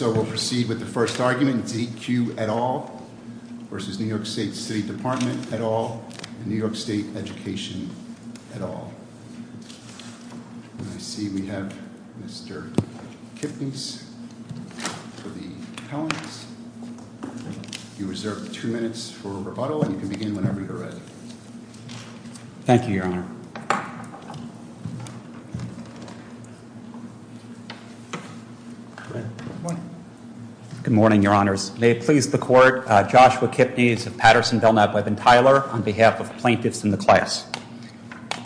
all, and New York State Education at all. I see we have Mr. Kipnis for the calendars. You have two minutes for rebuttal, and you can begin whenever you're ready. Thank you, Your Honor. Good morning, Your Honors. May it please the Court, Joshua Kipnis, Patterson, Belknap, Webb, and Tyler, on behalf of plaintiffs in the class.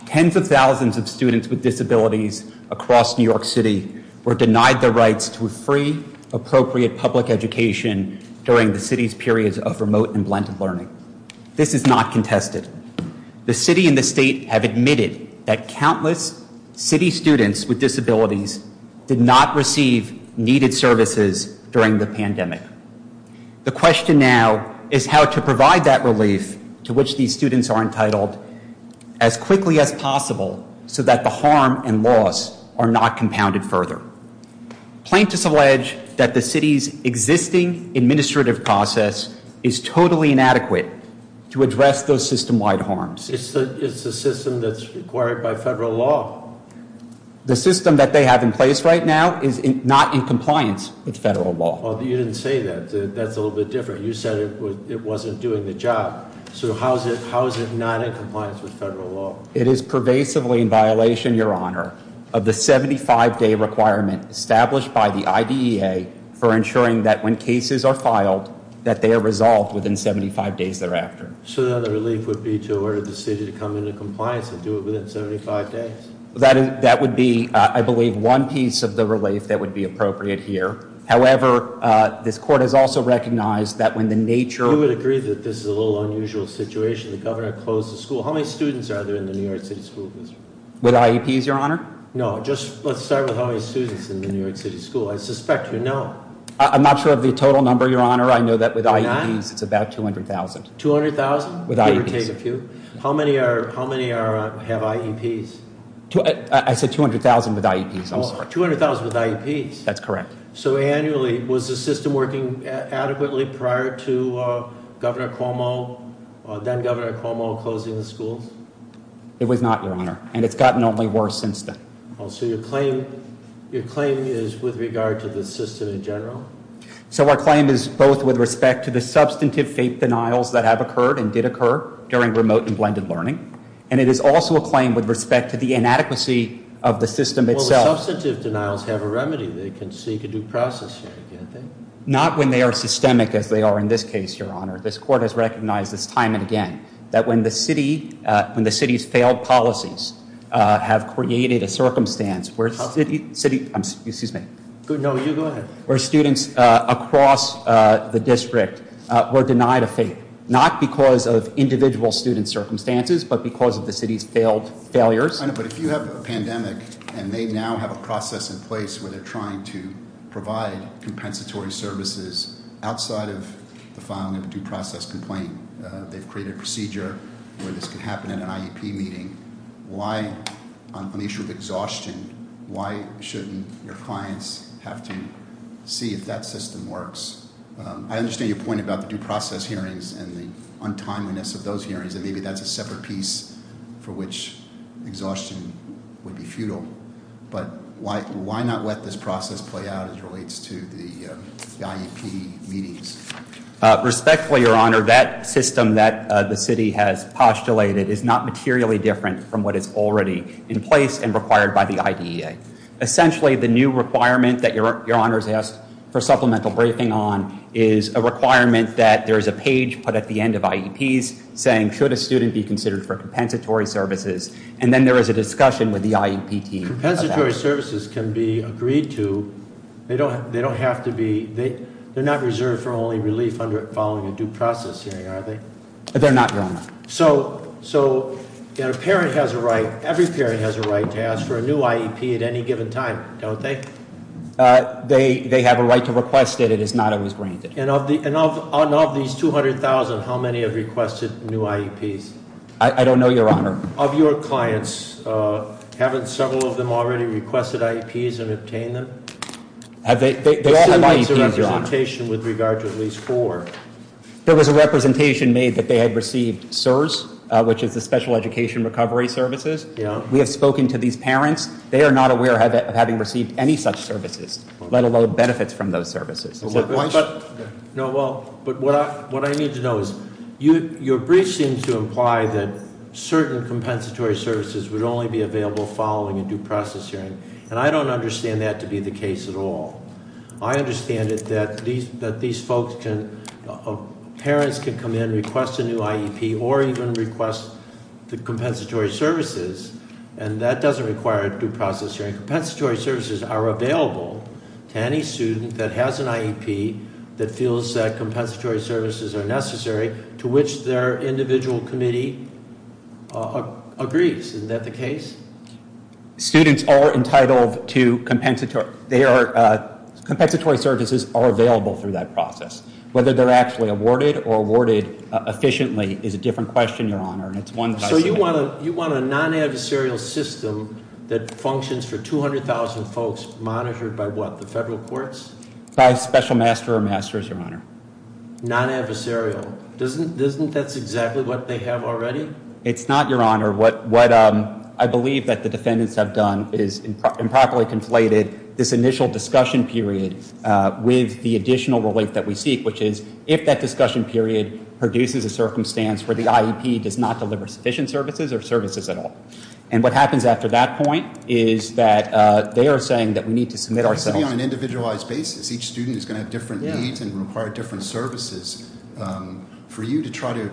Tens of thousands of students with disabilities across New York City were denied the rights to a free, appropriate public education during the city's periods of remote and blended learning. This is not contested. The city and the state have admitted that countless city students with disabilities did not receive needed services during the pandemic. The question now is how to provide that relief to which these students are entitled as quickly as possible so that the harm and loss are not compounded further. Plaintiffs allege that the city's existing administrative process is totally inadequate to address those system-wide harms. It's the system that's required by federal law. The system that they have in place right now is not in compliance with federal law. You didn't say that. That's a little bit different. You said it wasn't doing the job. So how is it not in compliance with federal law? It is pervasively in violation, Your Honor, of the 75-day requirement established by the IDEA for ensuring that when cases are filed, that they are resolved within 75 days thereafter. So the relief would be to order the city to come into compliance and do it within 75 days? That would be, I believe, one piece of the relief that would be appropriate here. However, this court has also recognized that when the nature... You would agree that this is a little unusual situation, the governor closed the school. How many students are there in the New York City School District? With IEPs, Your Honor? No, just let's start with how many students in the New York City School. I suspect you know. I'm not sure of the total number, Your Honor. I know that with IEPs, it's about 200,000. 200,000? With IEPs. How many have IEPs? I said 200,000 with IEPs. I'm sorry. 200,000 with IEPs? That's correct. So annually, was the system working adequately prior to Governor Cuomo, then Governor Cuomo, closing the schools? It was not, Your Honor, and it's gotten only worse since then. So your claim is with regard to the system in general? So our claim is both with respect to the substantive fake denials that have occurred and did occur during remote and blended learning, and it is also a claim with respect to the inadequacy of the system itself. Well, the substantive denials have a remedy. They can seek a due process here, can't they? Not when they are systemic as they are in this case, Your Honor. This court has recognized this time and again that when the city's failed policies have created a circumstance where... Excuse me. No, you go ahead. ...where students across the district were denied a fate, not because of individual student circumstances, but because of the city's failed failures. But if you have a pandemic and they now have a process in place where they're trying to provide compensatory services outside of the filing of a due process complaint, they've created a procedure where this could happen in an IEP meeting. Why, on the issue of exhaustion, why shouldn't your clients have to see if that system works? I understand your point about the due process hearings and the untimeliness of those hearings, and maybe that's a separate piece for which exhaustion would be futile. But why not let this process play out as it relates to the IEP meetings? Respectfully, Your Honor, that system that the city has postulated is not materially different from what is already in place and required by the IDEA. Essentially, the new requirement that Your Honor has asked for supplemental briefing on is a requirement that there is a page put at the end of IEPs saying, should a student be considered for compensatory services? And then there is a discussion with the IEP team about that. Supplementary services can be agreed to, they don't have to be, they're not reserved for only relief under following a due process hearing, are they? They're not, Your Honor. So a parent has a right, every parent has a right to ask for a new IEP at any given time, don't they? They have a right to request it, it is not always granted. And of these 200,000, how many have requested new IEPs? I don't know, Your Honor. Of your clients, haven't several of them already requested IEPs and obtained them? They all have IEPs, Your Honor. There still needs a representation with regard to at least four. There was a representation made that they had received SERS, which is the Special Education Recovery Services. Yeah. We have spoken to these parents. They are not aware of having received any such services, let alone benefits from those services. No, well, but what I need to know is, your brief seems to imply that certain compensatory services would only be available following a due process hearing. And I don't understand that to be the case at all. I understand it that these folks can, parents can come in, request a new IEP, or even request the compensatory services, and that doesn't require a due process hearing. The compensatory services are available to any student that has an IEP, that feels that compensatory services are necessary, to which their individual committee agrees. Isn't that the case? Students are entitled to compensatory. Compensatory services are available through that process. Whether they're actually awarded or awarded efficiently is a different question, Your Honor, and it's one that I- So you want a non-adversarial system that functions for 200,000 folks monitored by what, the federal courts? By a special master or masters, Your Honor. Non-adversarial. Doesn't that's exactly what they have already? It's not, Your Honor. What I believe that the defendants have done is improperly conflated this initial discussion period with the additional relief that we seek, which is if that discussion period produces a circumstance where the IEP does not deliver sufficient services or services at all. And what happens after that point is that they are saying that we need to submit ourselves- It's going to be on an individualized basis. Each student is going to have different needs and require different services. For you to try to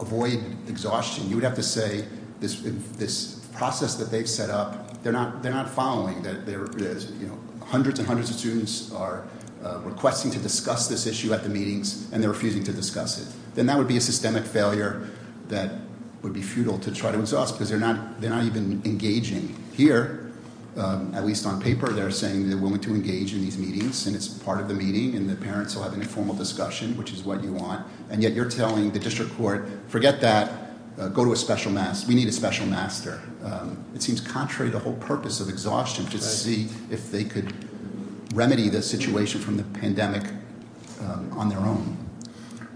avoid exhaustion, you would have to say this process that they've set up, they're not following that. Hundreds and hundreds of students are requesting to discuss this issue at the meetings and they're refusing to discuss it. Then that would be a systemic failure that would be futile to try to exhaust because they're not even engaging. Here, at least on paper, they're saying they're willing to engage in these meetings and it's part of the meeting and the parents will have an informal discussion, which is what you want. And yet you're telling the district court, forget that, go to a special master. We need a special master. It seems contrary to the whole purpose of exhaustion to see if they could remedy the situation from the pandemic on their own.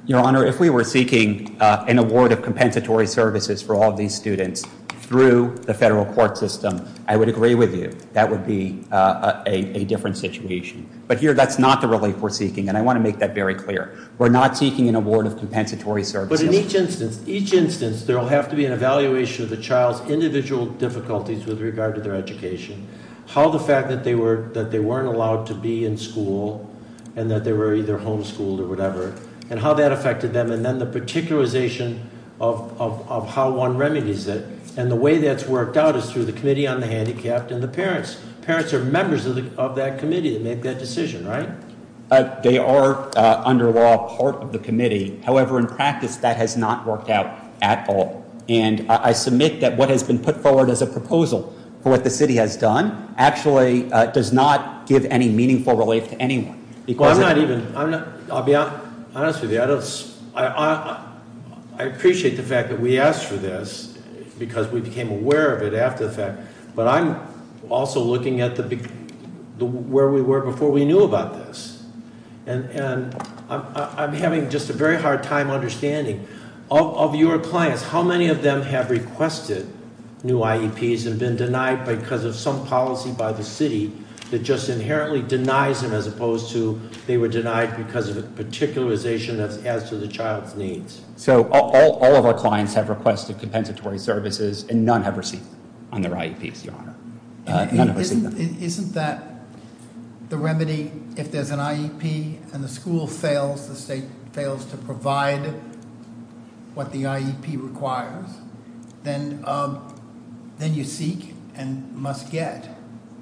Your Honor, if we were seeking an award of compensatory services for all of these students through the federal court system, I would agree with you. That would be a different situation. But here, that's not the relief we're seeking and I want to make that very clear. We're not seeking an award of compensatory services. But in each instance, each instance, there will have to be an evaluation of the child's individual difficulties with regard to their education. How the fact that they weren't allowed to be in school and that they were either homeschooled or whatever. And how that affected them and then the particularization of how one remedies it. And the way that's worked out is through the Committee on the Handicapped and the parents. Parents are members of that committee that make that decision, right? They are, under law, part of the committee. However, in practice, that has not worked out at all. And I submit that what has been put forward as a proposal for what the city has done actually does not give any meaningful relief to anyone. Because- I'm not even, I'll be honest with you. I appreciate the fact that we asked for this because we became aware of it after the fact. But I'm also looking at where we were before we knew about this. And I'm having just a very hard time understanding. Of your clients, how many of them have requested new IEPs and been denied because of some policy by the city that just inherently denies them as opposed to they were denied because of a particularization as to the child's needs? So all of our clients have requested compensatory services and none have received them on their IEPs, your honor. None have received them. Isn't that the remedy if there's an IEP and the school fails, the state fails to provide what the IEP requires, then you seek and must get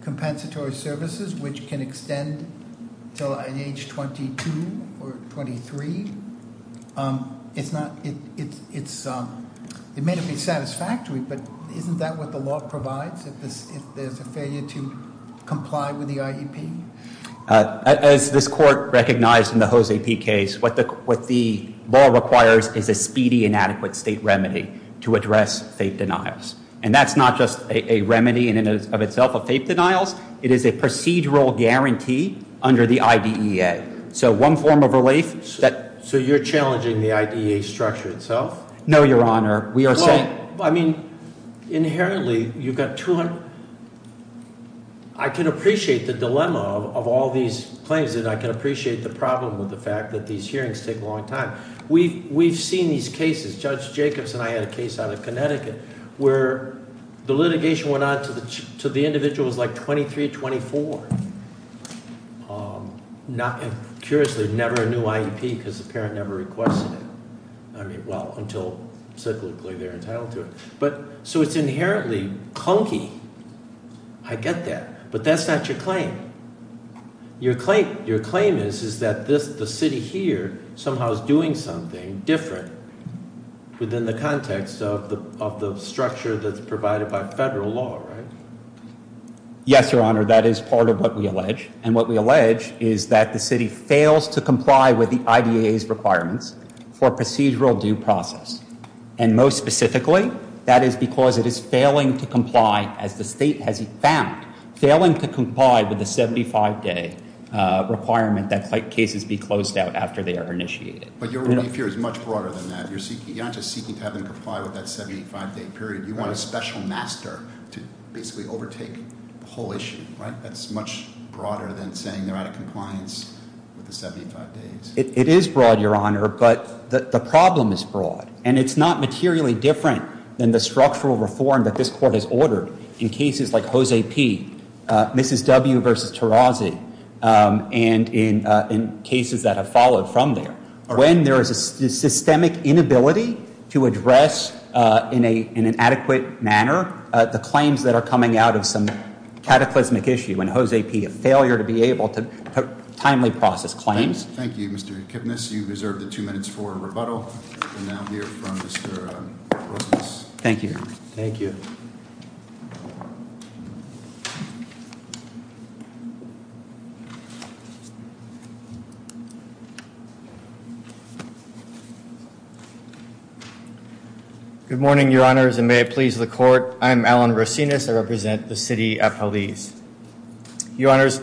compensatory services which can extend until at age 22 or 23. It may not be satisfactory, but isn't that what the law provides if there's a failure to comply with the IEP? As this court recognized in the Jose P case, what the law requires is a speedy and adequate state remedy to address fake denials. And that's not just a remedy in and of itself of fake denials. It is a procedural guarantee under the IDEA. So one form of relief that- So you're challenging the IDEA structure itself? No, your honor. We are saying- Well, I mean, inherently you've got 200. I can appreciate the dilemma of all these claims and I can appreciate the problem with the fact that these hearings take a long time. We've seen these cases, Judge Jacobs and I had a case out of Connecticut where the litigation went on to the individuals like 23, 24. Curiously, never a new IEP because the parent never requested it. I mean, well, until cyclically they're entitled to it. So it's inherently clunky. I get that, but that's not your claim. Your claim is that the city here somehow is doing something different within the context of the structure that's provided by federal law, right? Yes, your honor. That is part of what we allege. And what we allege is that the city fails to comply with the IDEA's requirements for procedural due process. And most specifically, that is because it is failing to comply as the state has found, failing to comply with the 75-day requirement that cases be closed out after they are initiated. But your relief here is much broader than that. You're not just seeking to have them comply with that 75-day period. You want a special master to basically overtake the whole issue, right? That's much broader than saying they're out of compliance with the 75 days. It is broad, your honor, but the problem is broad. And it's not materially different than the structural reform that this court has ordered in cases like Jose P., Mrs. W. versus Tarazi, and in cases that have followed from there. When there is a systemic inability to address in an adequate manner the claims that are coming out of some cataclysmic issue, and Jose P., a failure to be able to timely process claims. Thank you, Mr. Kipnis. You deserve the two minutes for rebuttal. We now hear from Mr. Rosas. Thank you, your honor. Thank you. Good morning, your honors, and may it please the court. I'm Alan Rosinas. I represent the city of Jalisco. Your honors,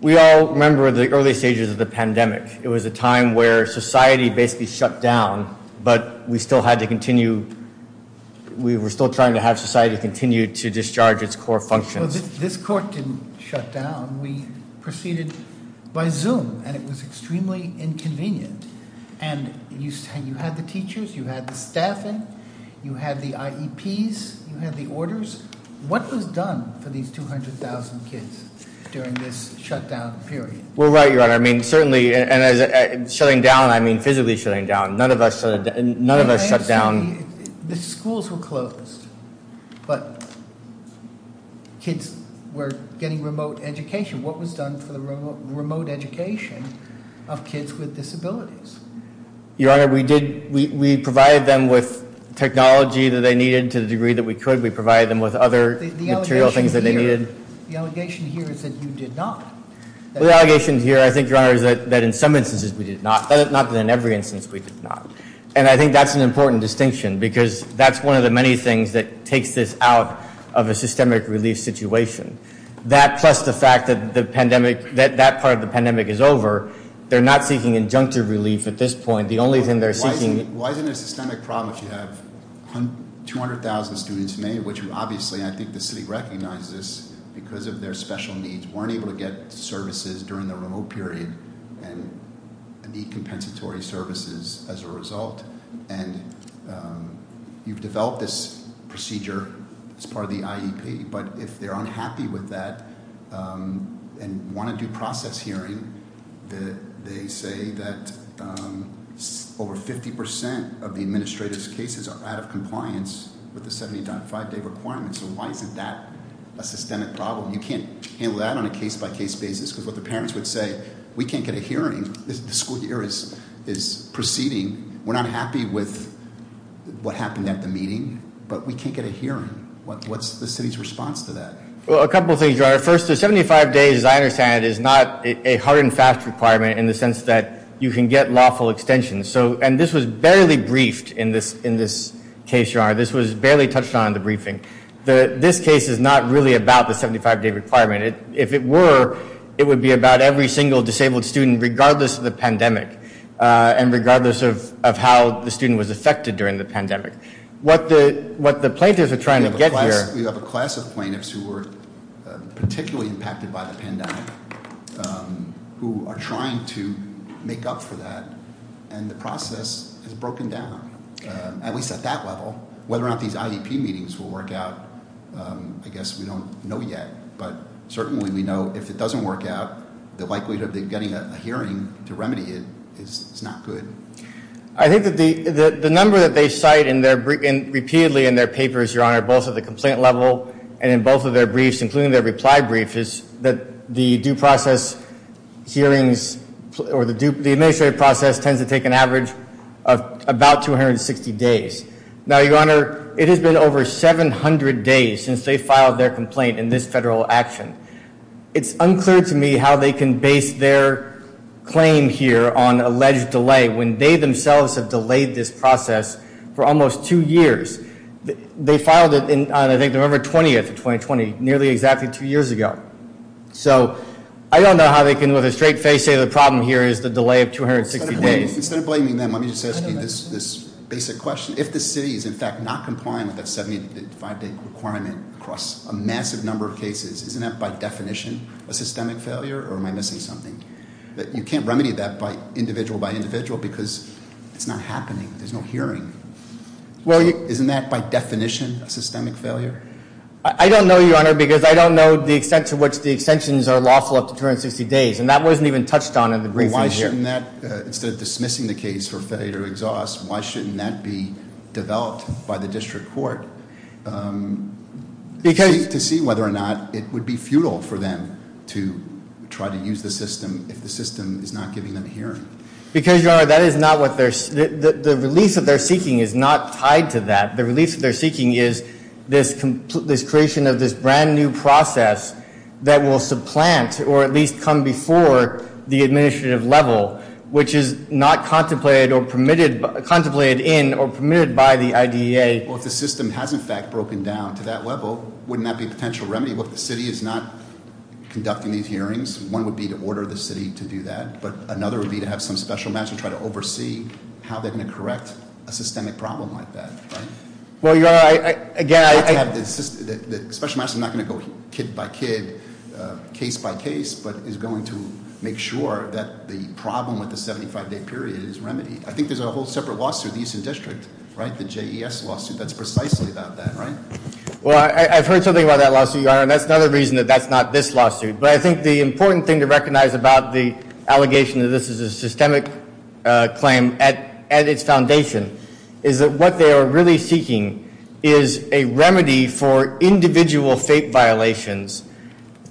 we all remember the early stages of the pandemic. It was a time where society basically shut down, but we still had to continue. We were still trying to have society continue to discharge its core functions. This court didn't shut down. We proceeded by Zoom, and it was extremely inconvenient. And you had the teachers, you had the staffing, you had the IEPs, you had the orders. What was done for these 200,000 kids during this shutdown period? Well, right, your honor. I mean, certainly, and shutting down, I mean physically shutting down. None of us shut down. The schools were closed, but kids were getting remote education. What was done for the remote education of kids with disabilities? Your honor, we provided them with technology that they needed to the degree that we could. We provided them with other material things that they needed. The allegation here is that you did not. The allegation here, I think, your honor, is that in some instances we did not. Not that in every instance we did not. And I think that's an important distinction because that's one of the many things that takes this out of a systemic relief situation. That plus the fact that that part of the pandemic is over, they're not seeking injunctive relief at this point. The only thing they're seeking- Why is it a systemic problem if you have 200,000 students made, which obviously I think the city recognizes because of their special needs, weren't able to get services during the remote period and need compensatory services as a result. And you've developed this procedure as part of the IEP. But if they're unhappy with that and want a due process hearing, they say that over 50% of the administrative cases are out of compliance with the 70.5 day requirement. So why isn't that a systemic problem? You can't handle that on a case-by-case basis because what the parents would say, we can't get a hearing. The school year is proceeding. We're not happy with what happened at the meeting, but we can't get a hearing. What's the city's response to that? Well, a couple of things, Your Honor. First, the 75 days, as I understand it, is not a hard and fast requirement in the sense that you can get lawful extensions. And this was barely briefed in this case, Your Honor. This was barely touched on in the briefing. This case is not really about the 75 day requirement. If it were, it would be about every single disabled student, regardless of the pandemic and regardless of how the student was affected during the pandemic. What the plaintiffs are trying to get here- We have a class of plaintiffs who were particularly impacted by the pandemic, who are trying to make up for that. And the process is broken down, at least at that level. Whether or not these IEP meetings will work out, I guess we don't know yet. But certainly we know if it doesn't work out, the likelihood of them getting a hearing to remedy it is not good. I think that the number that they cite repeatedly in their papers, Your Honor, both at the complaint level and in both of their briefs, including their reply brief, is that the due process hearings or the administrative process tends to take an average of about 260 days. Now, Your Honor, it has been over 700 days since they filed their complaint in this federal action. It's unclear to me how they can base their claim here on alleged delay when they themselves have delayed this process for almost two years. They filed it on, I think, November 20th of 2020, nearly exactly two years ago. So I don't know how they can, with a straight face, say the problem here is the delay of 260 days. Instead of blaming them, let me just ask you this basic question. If the city is in fact not complying with that 75 day requirement across a massive number of cases, isn't that by definition a systemic failure or am I missing something? You can't remedy that by individual by individual because it's not happening. There's no hearing. Isn't that by definition a systemic failure? I don't know, Your Honor, because I don't know the extent to which the extensions are lawful up to 260 days. And that wasn't even touched on in the briefing here. Why shouldn't that, instead of dismissing the case for failure to exhaust, why shouldn't that be developed by the district court to see whether or not it would be futile for them to try to use the system if the system is not giving them hearing? Because, Your Honor, the release that they're seeking is not tied to that. The release that they're seeking is this creation of this brand new process that will supplant or at least come before the administrative level, which is not contemplated in or permitted by the IDEA. Well, if the system has in fact broken down to that level, wouldn't that be a potential remedy? Well, if the city is not conducting these hearings, one would be to order the city to do that. But another would be to have some special measure try to oversee how they're going to correct a systemic problem like that, right? Well, Your Honor, again, I- The special measure is not going to go kid by kid, case by case, but is going to make sure that the problem with the 75-day period is remedied. I think there's a whole separate lawsuit, the Eastern District, right? The JES lawsuit, that's precisely about that, right? Well, I've heard something about that lawsuit, Your Honor, and that's another reason that that's not this lawsuit. But I think the important thing to recognize about the allegation that this is a systemic claim at its foundation is that what they are really seeking is a remedy for individual fake violations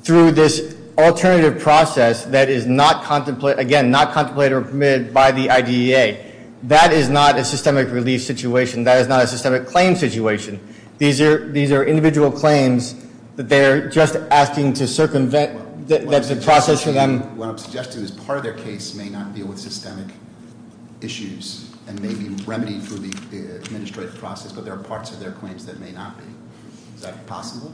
through this alternative process that is not contemplated, again, not contemplated or permitted by the IDEA. That is not a systemic relief situation. That is not a systemic claim situation. These are individual claims that they're just asking to circumvent the process for them. What I'm suggesting is part of their case may not deal with systemic issues and may be remedied through the administrative process, but there are parts of their claims that may not be. Is that possible?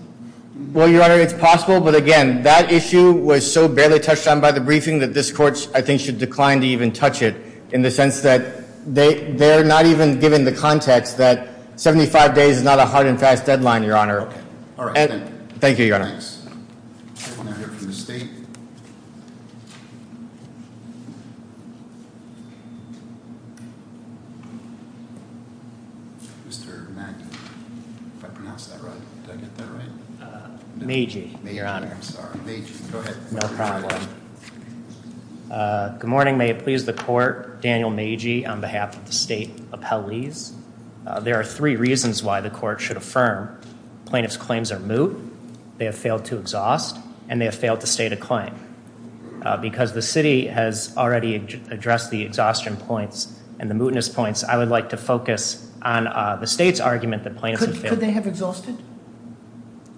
Well, Your Honor, it's possible, but again, that issue was so barely touched on by the briefing that this court, I think, should decline to even touch it. In the sense that they're not even given the context that 75 days is not a hard and fast deadline, Your Honor. Okay. All right. Thank you, Your Honor. Thanks. We're going to hear from the state. Mr. Maggi, if I pronounced that right, did I get that right? Maggi, Your Honor. I'm sorry. Maggi, go ahead. No problem. Good morning. May it please the court, Daniel Maggi on behalf of the state appellees. There are three reasons why the court should affirm plaintiff's claims are moot. They have failed to exhaust, and they have failed to state a claim. Because the city has already addressed the exhaustion points and the mootness points, I would like to focus on the state's argument that plaintiffs have failed. Could they have exhausted?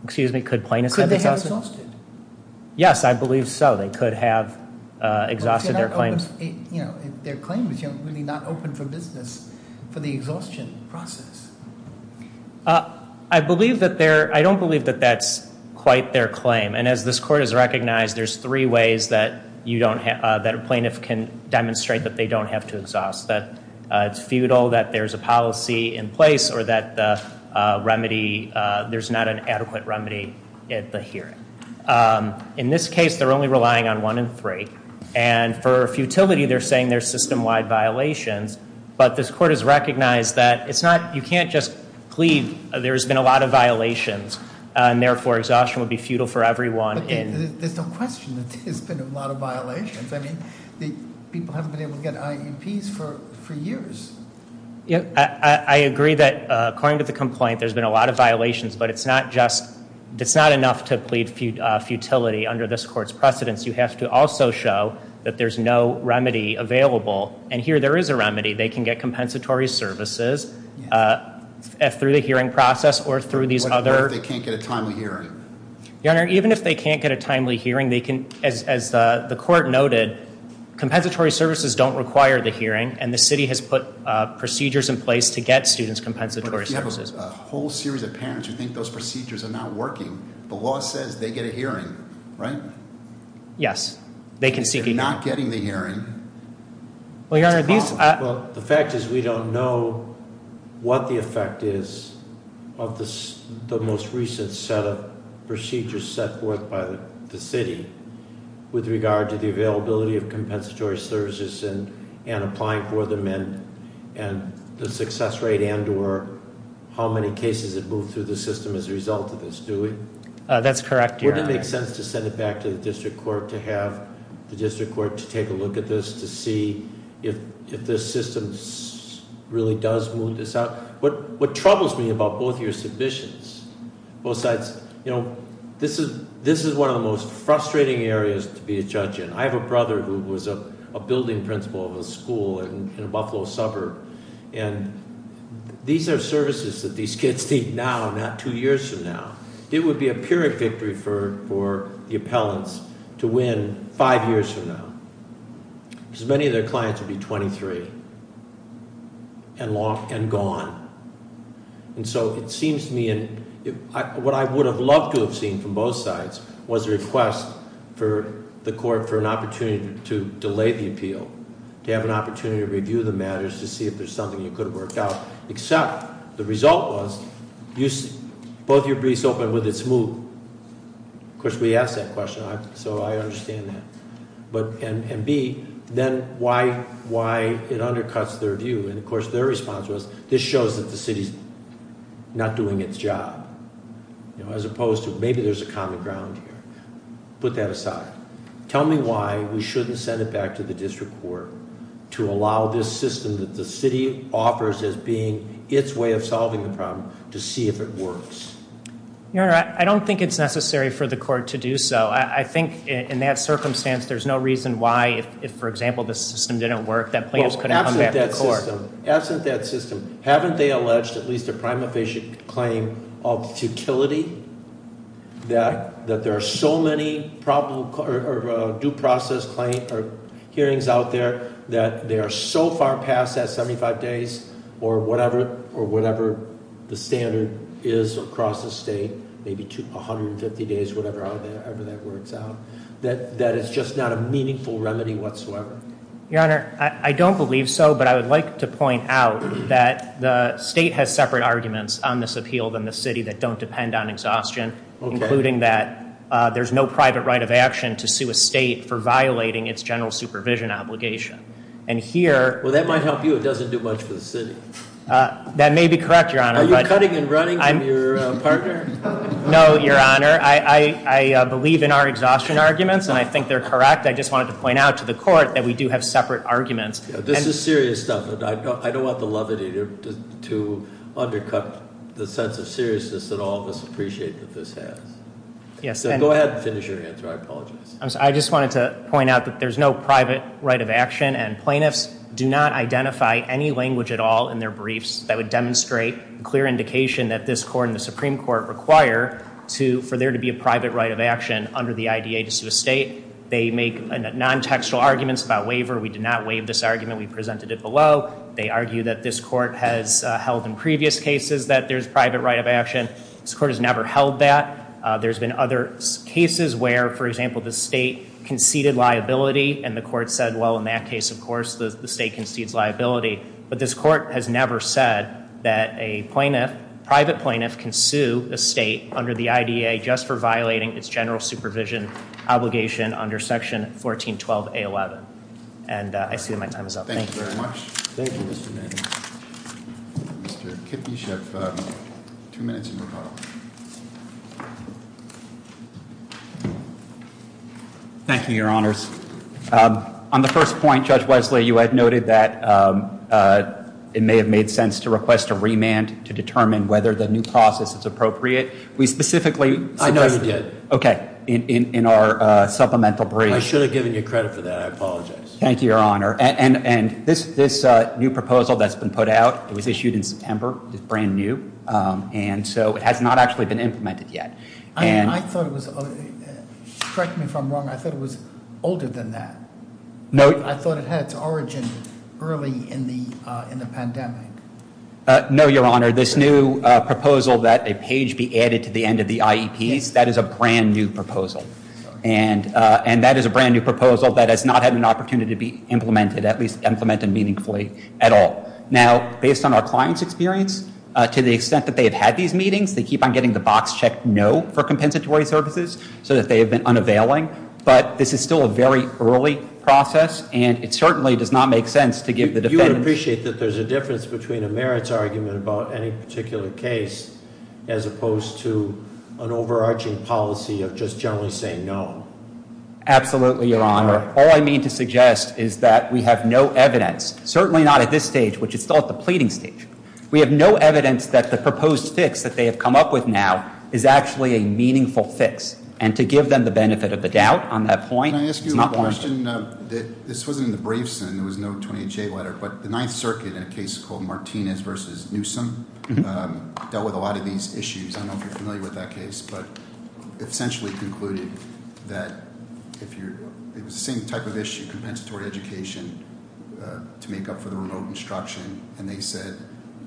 Excuse me? Could plaintiffs have exhausted? Could they have exhausted? Yes, I believe so. They could have exhausted their claims. Their claim is really not open for business for the exhaustion process. I don't believe that that's quite their claim. And as this court has recognized, there's three ways that a plaintiff can demonstrate that they don't have to exhaust. That it's futile, that there's a policy in place, or that there's not an adequate remedy at the hearing. In this case, they're only relying on one in three. And for futility, they're saying there's system-wide violations. But this court has recognized that you can't just plead, there's been a lot of violations. And therefore, exhaustion would be futile for everyone. But there's no question that there's been a lot of violations. I mean, people haven't been able to get IEPs for years. I agree that, according to the complaint, there's been a lot of violations. But it's not enough to plead futility under this court's precedence. You have to also show that there's no remedy available. And here, there is a remedy. They can get compensatory services through the hearing process or through these other- What if they can't get a timely hearing? Your Honor, even if they can't get a timely hearing, as the court noted, compensatory services don't require the hearing. And the city has put procedures in place to get students compensatory services. But if you have a whole series of parents who think those procedures are not working, the law says they get a hearing, right? Yes, they can seek a hearing. If they're not getting the hearing- Well, Your Honor, these- Well, the fact is we don't know what the effect is of the most recent set of procedures set forth by the city with regard to the availability of compensatory services and applying for them and the success rate and or how many cases have moved through the system as a result of this, do we? That's correct, Your Honor. Wouldn't it make sense to send it back to the district court to have the district court to take a look at this to see if this system really does move this out? What troubles me about both your submissions, both sides, this is one of the most frustrating areas to be a judge in. I have a brother who was a building principal of a school in a Buffalo suburb, and these are services that these kids need now, not two years from now. It would be a pyrrhic victory for the appellants to win five years from now, because many of their clients would be 23 and gone. And so it seems to me, and what I would have loved to have seen from both sides was a request for the court for an opportunity to delay the appeal, to have an opportunity to review the matters to see if there's something that could have worked out, except the result was both your briefs opened with its move. Of course, we asked that question, so I understand that. And B, then why it undercuts their view, and of course their response was, this shows that the city's not doing its job, as opposed to maybe there's a common ground here. Put that aside. Tell me why we shouldn't send it back to the district court to allow this system that the city offers as being its way of solving the problem to see if it works. Your Honor, I don't think it's necessary for the court to do so. I think in that circumstance, there's no reason why if, for example, this system didn't work, that plaintiffs couldn't come back to court. Absent that system, haven't they alleged at least a prima facie claim of futility? That there are so many due process hearings out there that they are so far past that 75 days or whatever the standard is across the state. Maybe 150 days, whatever that works out. That it's just not a meaningful remedy whatsoever. Your Honor, I don't believe so, but I would like to point out that the state has separate arguments on this appeal than the city that don't depend on exhaustion. Okay. Including that there's no private right of action to sue a state for violating its general supervision obligation. And here- Well, that might help you. It doesn't do much for the city. That may be correct, Your Honor. Are you cutting and running from your partner? No, Your Honor. I believe in our exhaustion arguments, and I think they're correct. I just wanted to point out to the court that we do have separate arguments. This is serious stuff. I don't want the levity to undercut the sense of seriousness that all of us appreciate that this has. Yes. Go ahead and finish your answer. I apologize. I just wanted to point out that there's no private right of action, and plaintiffs do not identify any language at all in their briefs that would demonstrate clear indication that this court and the Supreme Court require for there to be a private right of action under the IDA to sue a state. They make non-textual arguments about waiver. We did not waive this argument. We presented it below. They argue that this court has held in previous cases that there's private right of action. This court has never held that. There's been other cases where, for example, the state conceded liability, and the court said, well, in that case, of course, the state concedes liability. But this court has never said that a private plaintiff can sue a state under the IDA just for violating its general supervision obligation under Section 1412A11. And I see that my time is up. Thank you. Thank you very much. Thank you, Mr. Manning. Mr. Kipp, you should have two minutes in rebuttal. Thank you, Your Honors. On the first point, Judge Wesley, you had noted that it may have made sense to request a remand to determine whether the new process is appropriate. We specifically suggested- I know you did. Okay. In our supplemental brief- I should have given you credit for that. I apologize. Thank you, Your Honor. And this new proposal that's been put out, it was issued in September. It's brand new. And so it has not actually been implemented yet. I thought it was- correct me if I'm wrong. I thought it was older than that. No. I thought it had its origin early in the pandemic. No, Your Honor. This new proposal that a page be added to the end of the IEPs, that is a brand new proposal. And that is a brand new proposal that has not had an opportunity to be implemented, at least implemented meaningfully at all. Now, based on our client's experience, to the extent that they have had these meetings, they keep on getting the box check no for compensatory services so that they have been unavailing. But this is still a very early process, and it certainly does not make sense to give the defense- You would appreciate that there's a difference between a merits argument about any particular case as opposed to an overarching policy of just generally saying no. Absolutely, Your Honor. All I mean to suggest is that we have no evidence, certainly not at this stage, which is still at the pleading stage. We have no evidence that the proposed fix that they have come up with now is actually a meaningful fix. And to give them the benefit of the doubt on that point- Can I ask you a question? This wasn't in the briefs, and there was no 28-J letter, but the Ninth Circuit in a case called Martinez v. Newsom dealt with a lot of these issues. I don't know if you're familiar with that case, but it essentially concluded that if you're-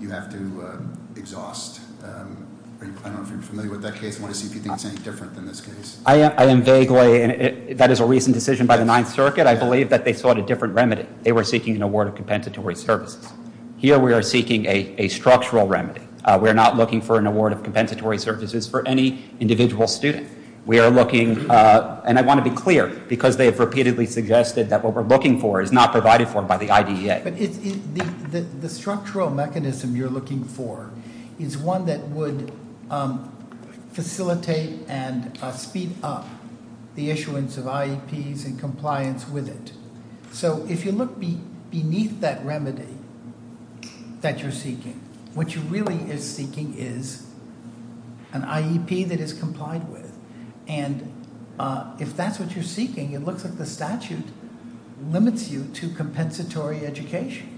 You have to exhaust- I don't know if you're familiar with that case. I want to see if you think it's any different than this case. I am vaguely, and that is a recent decision by the Ninth Circuit. I believe that they sought a different remedy. They were seeking an award of compensatory services. Here we are seeking a structural remedy. We are not looking for an award of compensatory services for any individual student. We are looking- and I want to be clear, because they have repeatedly suggested that what we're looking for is not provided for by the IDEA. The structural mechanism you're looking for is one that would facilitate and speed up the issuance of IEPs and compliance with it. So if you look beneath that remedy that you're seeking, what you really are seeking is an IEP that is complied with. And if that's what you're seeking, it looks like the statute limits you to compensatory education.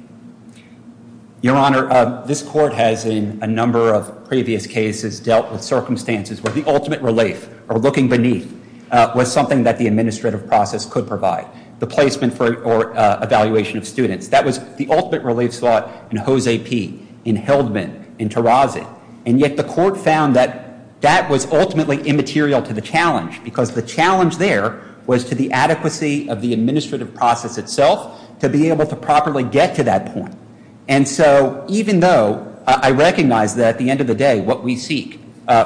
Your Honor, this court has, in a number of previous cases, dealt with circumstances where the ultimate relief, or looking beneath, was something that the administrative process could provide. The placement or evaluation of students. That was the ultimate relief slot in Jose P., in Heldman, in Terraza. And yet the court found that that was ultimately immaterial to the challenge, because the challenge there was to the adequacy of the administrative process itself, to be able to properly get to that point. And so even though I recognize that at the end of the day, what we seek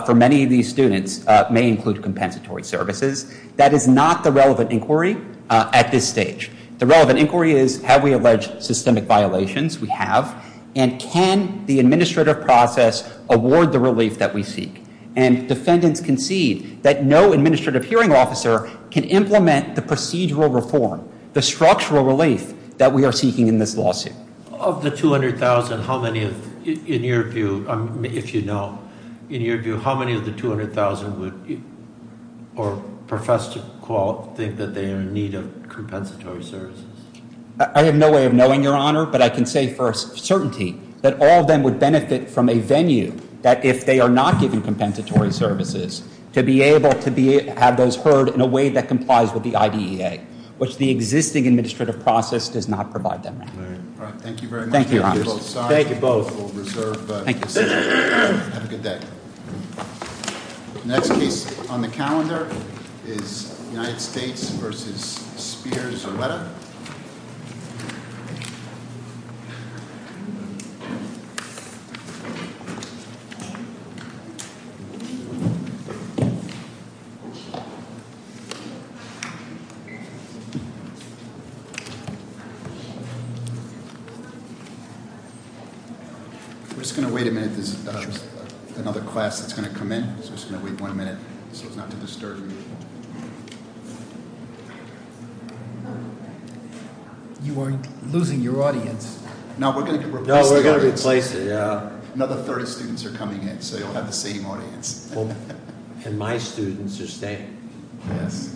for many of these students may include compensatory services, that is not the relevant inquiry at this stage. The relevant inquiry is, have we alleged systemic violations? We have. And can the administrative process award the relief that we seek? And defendants concede that no administrative hearing officer can implement the procedural reform, the structural relief that we are seeking in this lawsuit. Of the 200,000, how many of, in your view, if you know, in your view, how many of the 200,000 would, or profess to think that they are in need of compensatory services? I have no way of knowing, Your Honor, but I can say for certainty that all of them would benefit from a venue that if they are not given compensatory services, to be able to have those heard in a way that complies with the IDEA, which the existing administrative process does not provide them with. All right. Thank you very much. Thank you, Your Honors. Thank you both. Thank you. Have a good day. Next case on the calendar is United States v. Spears-Arreta. We're just going to wait a minute. There's another class that's going to come in, so we're just going to wait one minute so as not to disturb you. You are losing your audience. No, we're going to replace it. No, we're going to replace it, yeah. Another third of students are coming in, so you'll have the same audience. And my students are staying. Yes.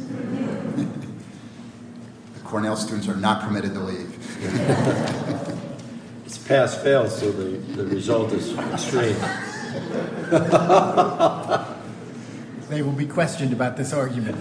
The Cornell students are not permitted to leave. It's pass-fail, so the result is extreme. They will be questioned about this argument. Mr. Glasser, are you all right? He's got me.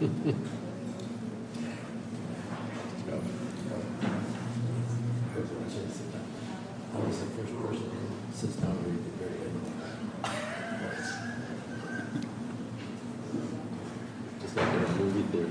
I was watching it sit down. How was the first verse? It sits down at the very end. It's like a movie theater. I see. I see. I see. I see. I see. All right, Mr. Glasser.